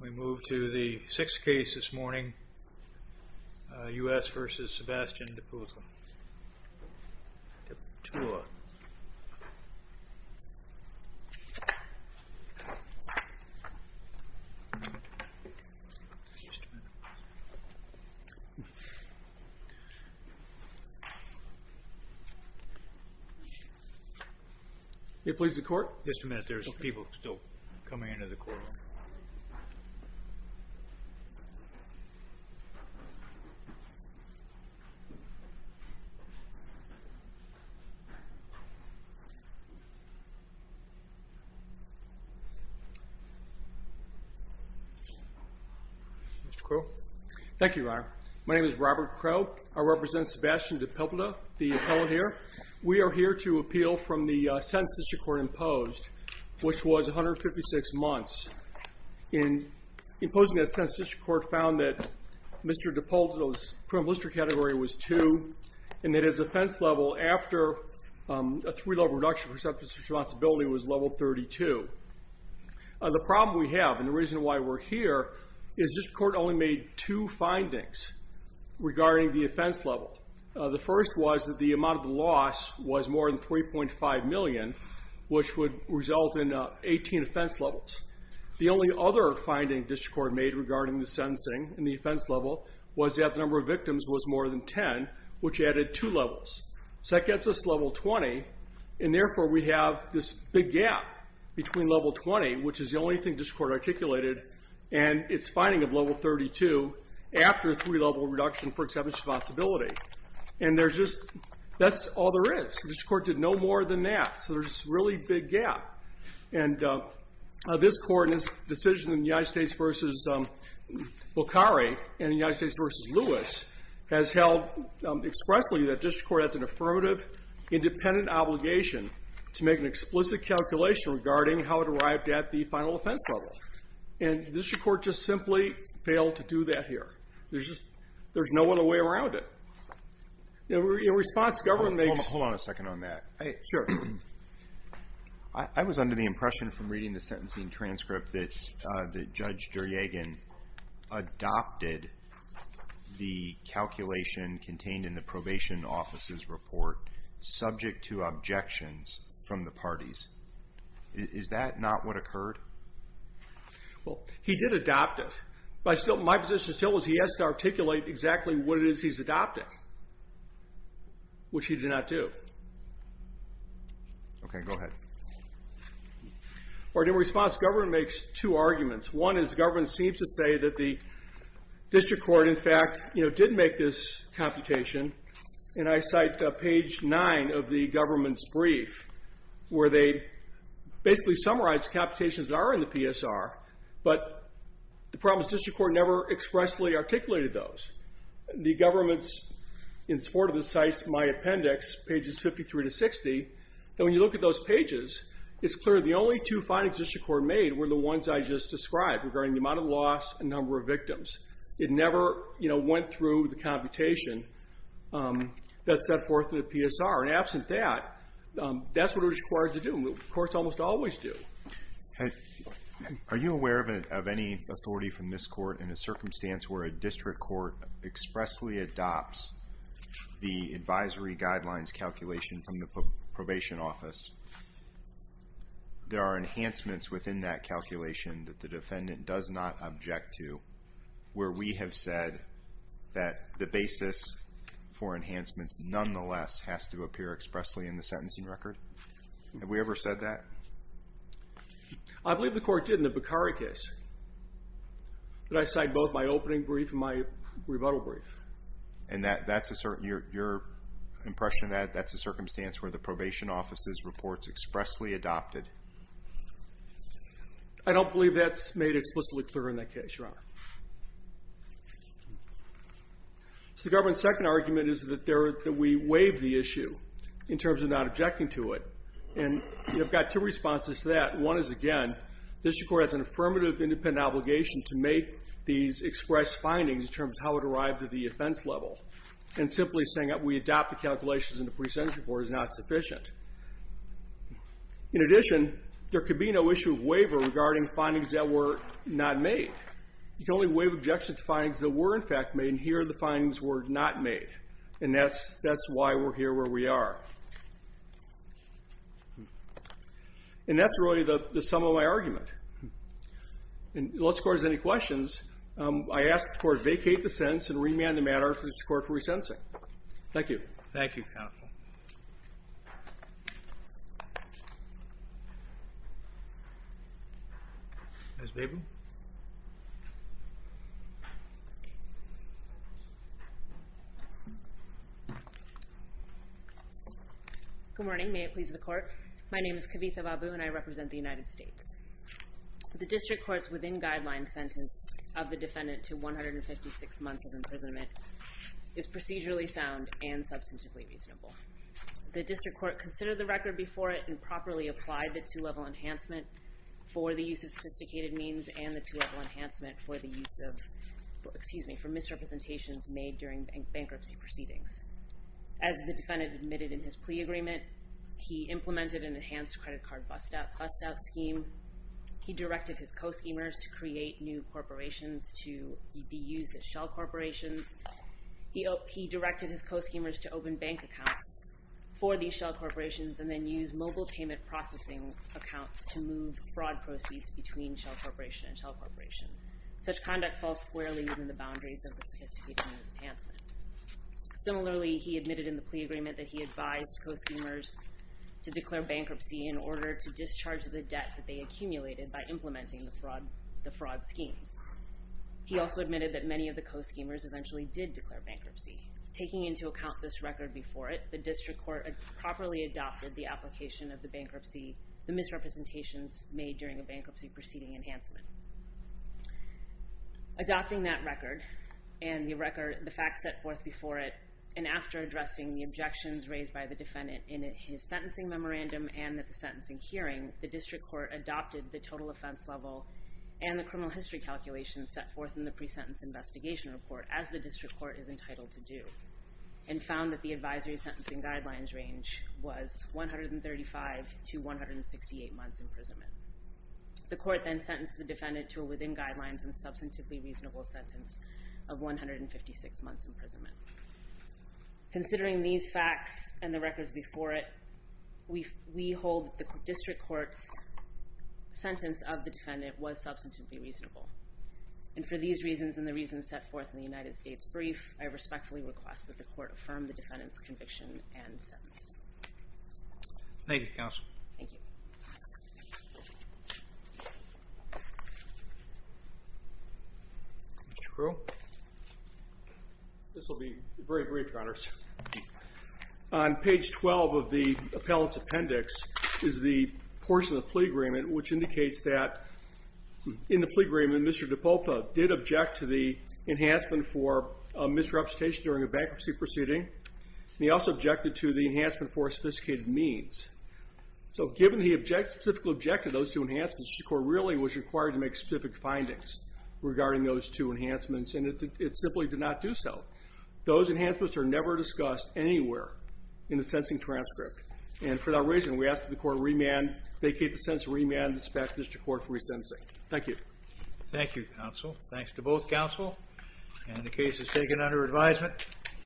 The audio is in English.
We move to the sixth case this morning, US vs. Sebastian Depula. Depula. May it please the court? Just a minute, there's people still coming into the courtroom. Mr. Crowe. Thank you, Your Honor. My name is Robert Crowe. I represent Sebastian Depula, the appellant here. We are here to appeal from the sentence that the court imposed, which was 156 months. In imposing that sentence, the court found that Mr. Depula's criminal history category was 2, and that his offense level after a three-level reduction for sentence responsibility was level 32. The problem we have, and the reason why we're here, is this court only made two findings regarding the offense level. The first was that the amount of the loss was more than 3.5 million, which would result in 18 offense levels. The only other finding this court made regarding the sentencing and the offense level was that the number of victims was more than 10, which added two levels. So that gets us level 20, and therefore we have this big gap between level 20, which is the only thing this court articulated, and its finding of level 32 after a three-level reduction for sentence responsibility. And that's all there is. This court did no more than that, so there's a really big gap. And this court and its decision in the United States v. Bokhari and the United States v. Lewis has held expressly that district court has an affirmative, independent obligation to make an explicit calculation regarding how it arrived at the final offense level. And district court just simply failed to do that here. There's no other way around it. In response, government makes... Hold on a second on that. Sure. I was under the impression from reading the sentencing transcript that Judge Duryegan adopted the calculation contained in the probation office's report subject to objections from the parties. Is that not what occurred? Well, he did adopt it. My position still is he has to articulate exactly what it is he's adopting, which he did not do. Okay, go ahead. In response, government makes two arguments. One is government seems to say that the district court, in fact, did make this computation, and I cite page 9 of the government's brief where they basically summarize computations that are in the PSR, but the problem is district court never expressly articulated those. The government, in support of this, cites my appendix, pages 53 to 60, and when you look at those pages, it's clear the only two findings district court made were the ones I just described regarding the amount of loss and number of victims. It never went through the computation that's set forth in the PSR, and absent that, that's what it was required to do, and courts almost always do. Are you aware of any authority from this court in a circumstance where a district court expressly adopts the advisory guidelines calculation from the probation office? There are enhancements within that calculation that the defendant does not object to where we have said that the basis for enhancements, nonetheless, has to appear expressly in the sentencing record. Have we ever said that? I believe the court did in the Beccari case. But I cite both my opening brief and my rebuttal brief. And your impression of that, that's a circumstance where the probation office's reports expressly adopted? I don't believe that's made explicitly clear in that case, Your Honor. So the government's second argument is that we waive the issue in terms of not objecting to it, and you've got two responses to that. One is, again, this court has an affirmative independent obligation to make these expressed findings in terms of how it arrived at the offense level, and simply saying that we adopt the calculations in the presentation report is not sufficient. In addition, there could be no issue of waiver regarding findings that were not made. You can only waive objections to findings that were, in fact, made, and here the findings were not made, and that's why we're here where we are. And that's really the sum of my argument. Unless the Court has any questions, I ask the Court vacate the sentence and remand the matter to the Court for re-sentencing. Thank you. Thank you, counsel. Ms. Babin? Good morning. May it please the Court? My name is Kavitha Babin, and I represent the United States. The District Court's within-guideline sentence of the defendant to 156 months of imprisonment is procedurally sound and substantively reasonable. The District Court considered the record before it and properly applied the two-level enhancement for the use of sophisticated means and the two-level enhancement for misrepresentations made during bankruptcy proceedings. As the defendant admitted in his plea agreement, he implemented an enhanced credit card bust-out scheme. He directed his co-schemers to create new corporations to be used as shell corporations. He directed his co-schemers to open bank accounts for these shell corporations and then use mobile payment processing accounts to move fraud proceeds between shell corporation and shell corporation. Such conduct falls squarely within the boundaries of the sophisticated means enhancement. Similarly, he admitted in the plea agreement that he advised co-schemers to declare bankruptcy in order to discharge the debt that they accumulated by implementing the fraud schemes. He also admitted that many of the co-schemers eventually did declare bankruptcy. Taking into account this record before it, the District Court properly adopted the application of the bankruptcy, the misrepresentations made during a bankruptcy proceeding enhancement. Adopting that record and the facts set forth before it, and after addressing the objections raised by the defendant in his sentencing memorandum and at the sentencing hearing, the District Court adopted the total offense level and the criminal history calculations set forth in the pre-sentence investigation report, as the District Court is entitled to do, and found that the advisory sentencing guidelines range was 135 to 168 months imprisonment. The court then sentenced the defendant to a within guidelines and substantively reasonable sentence of 156 months imprisonment. Considering these facts and the records before it, we hold that the District Court's sentence of the defendant was substantively reasonable, and for these reasons and the reasons set forth in the United States brief, I respectfully request that the court affirm the defendant's conviction and sentence. Thank you, Counsel. Thank you. Mr. Crew? This will be very brief, Your Honors. On page 12 of the appellant's appendix is the portion of the plea agreement, which indicates that in the plea agreement, Mr. DiPolpa did object to the enhancement for misrepresentation during a bankruptcy proceeding, and he also objected to the enhancement for sophisticated means. So given the specific objective of those two enhancements, the court really was required to make specific findings regarding those two enhancements, and it simply did not do so. Those enhancements are never discussed anywhere in the sentencing transcript, and for that reason, we ask that the court remand, vacate the sentence, remand it back to the District Court for resentencing. Thank you. Thank you, Counsel. Thanks to both Counsel, and the case is taken under advisement.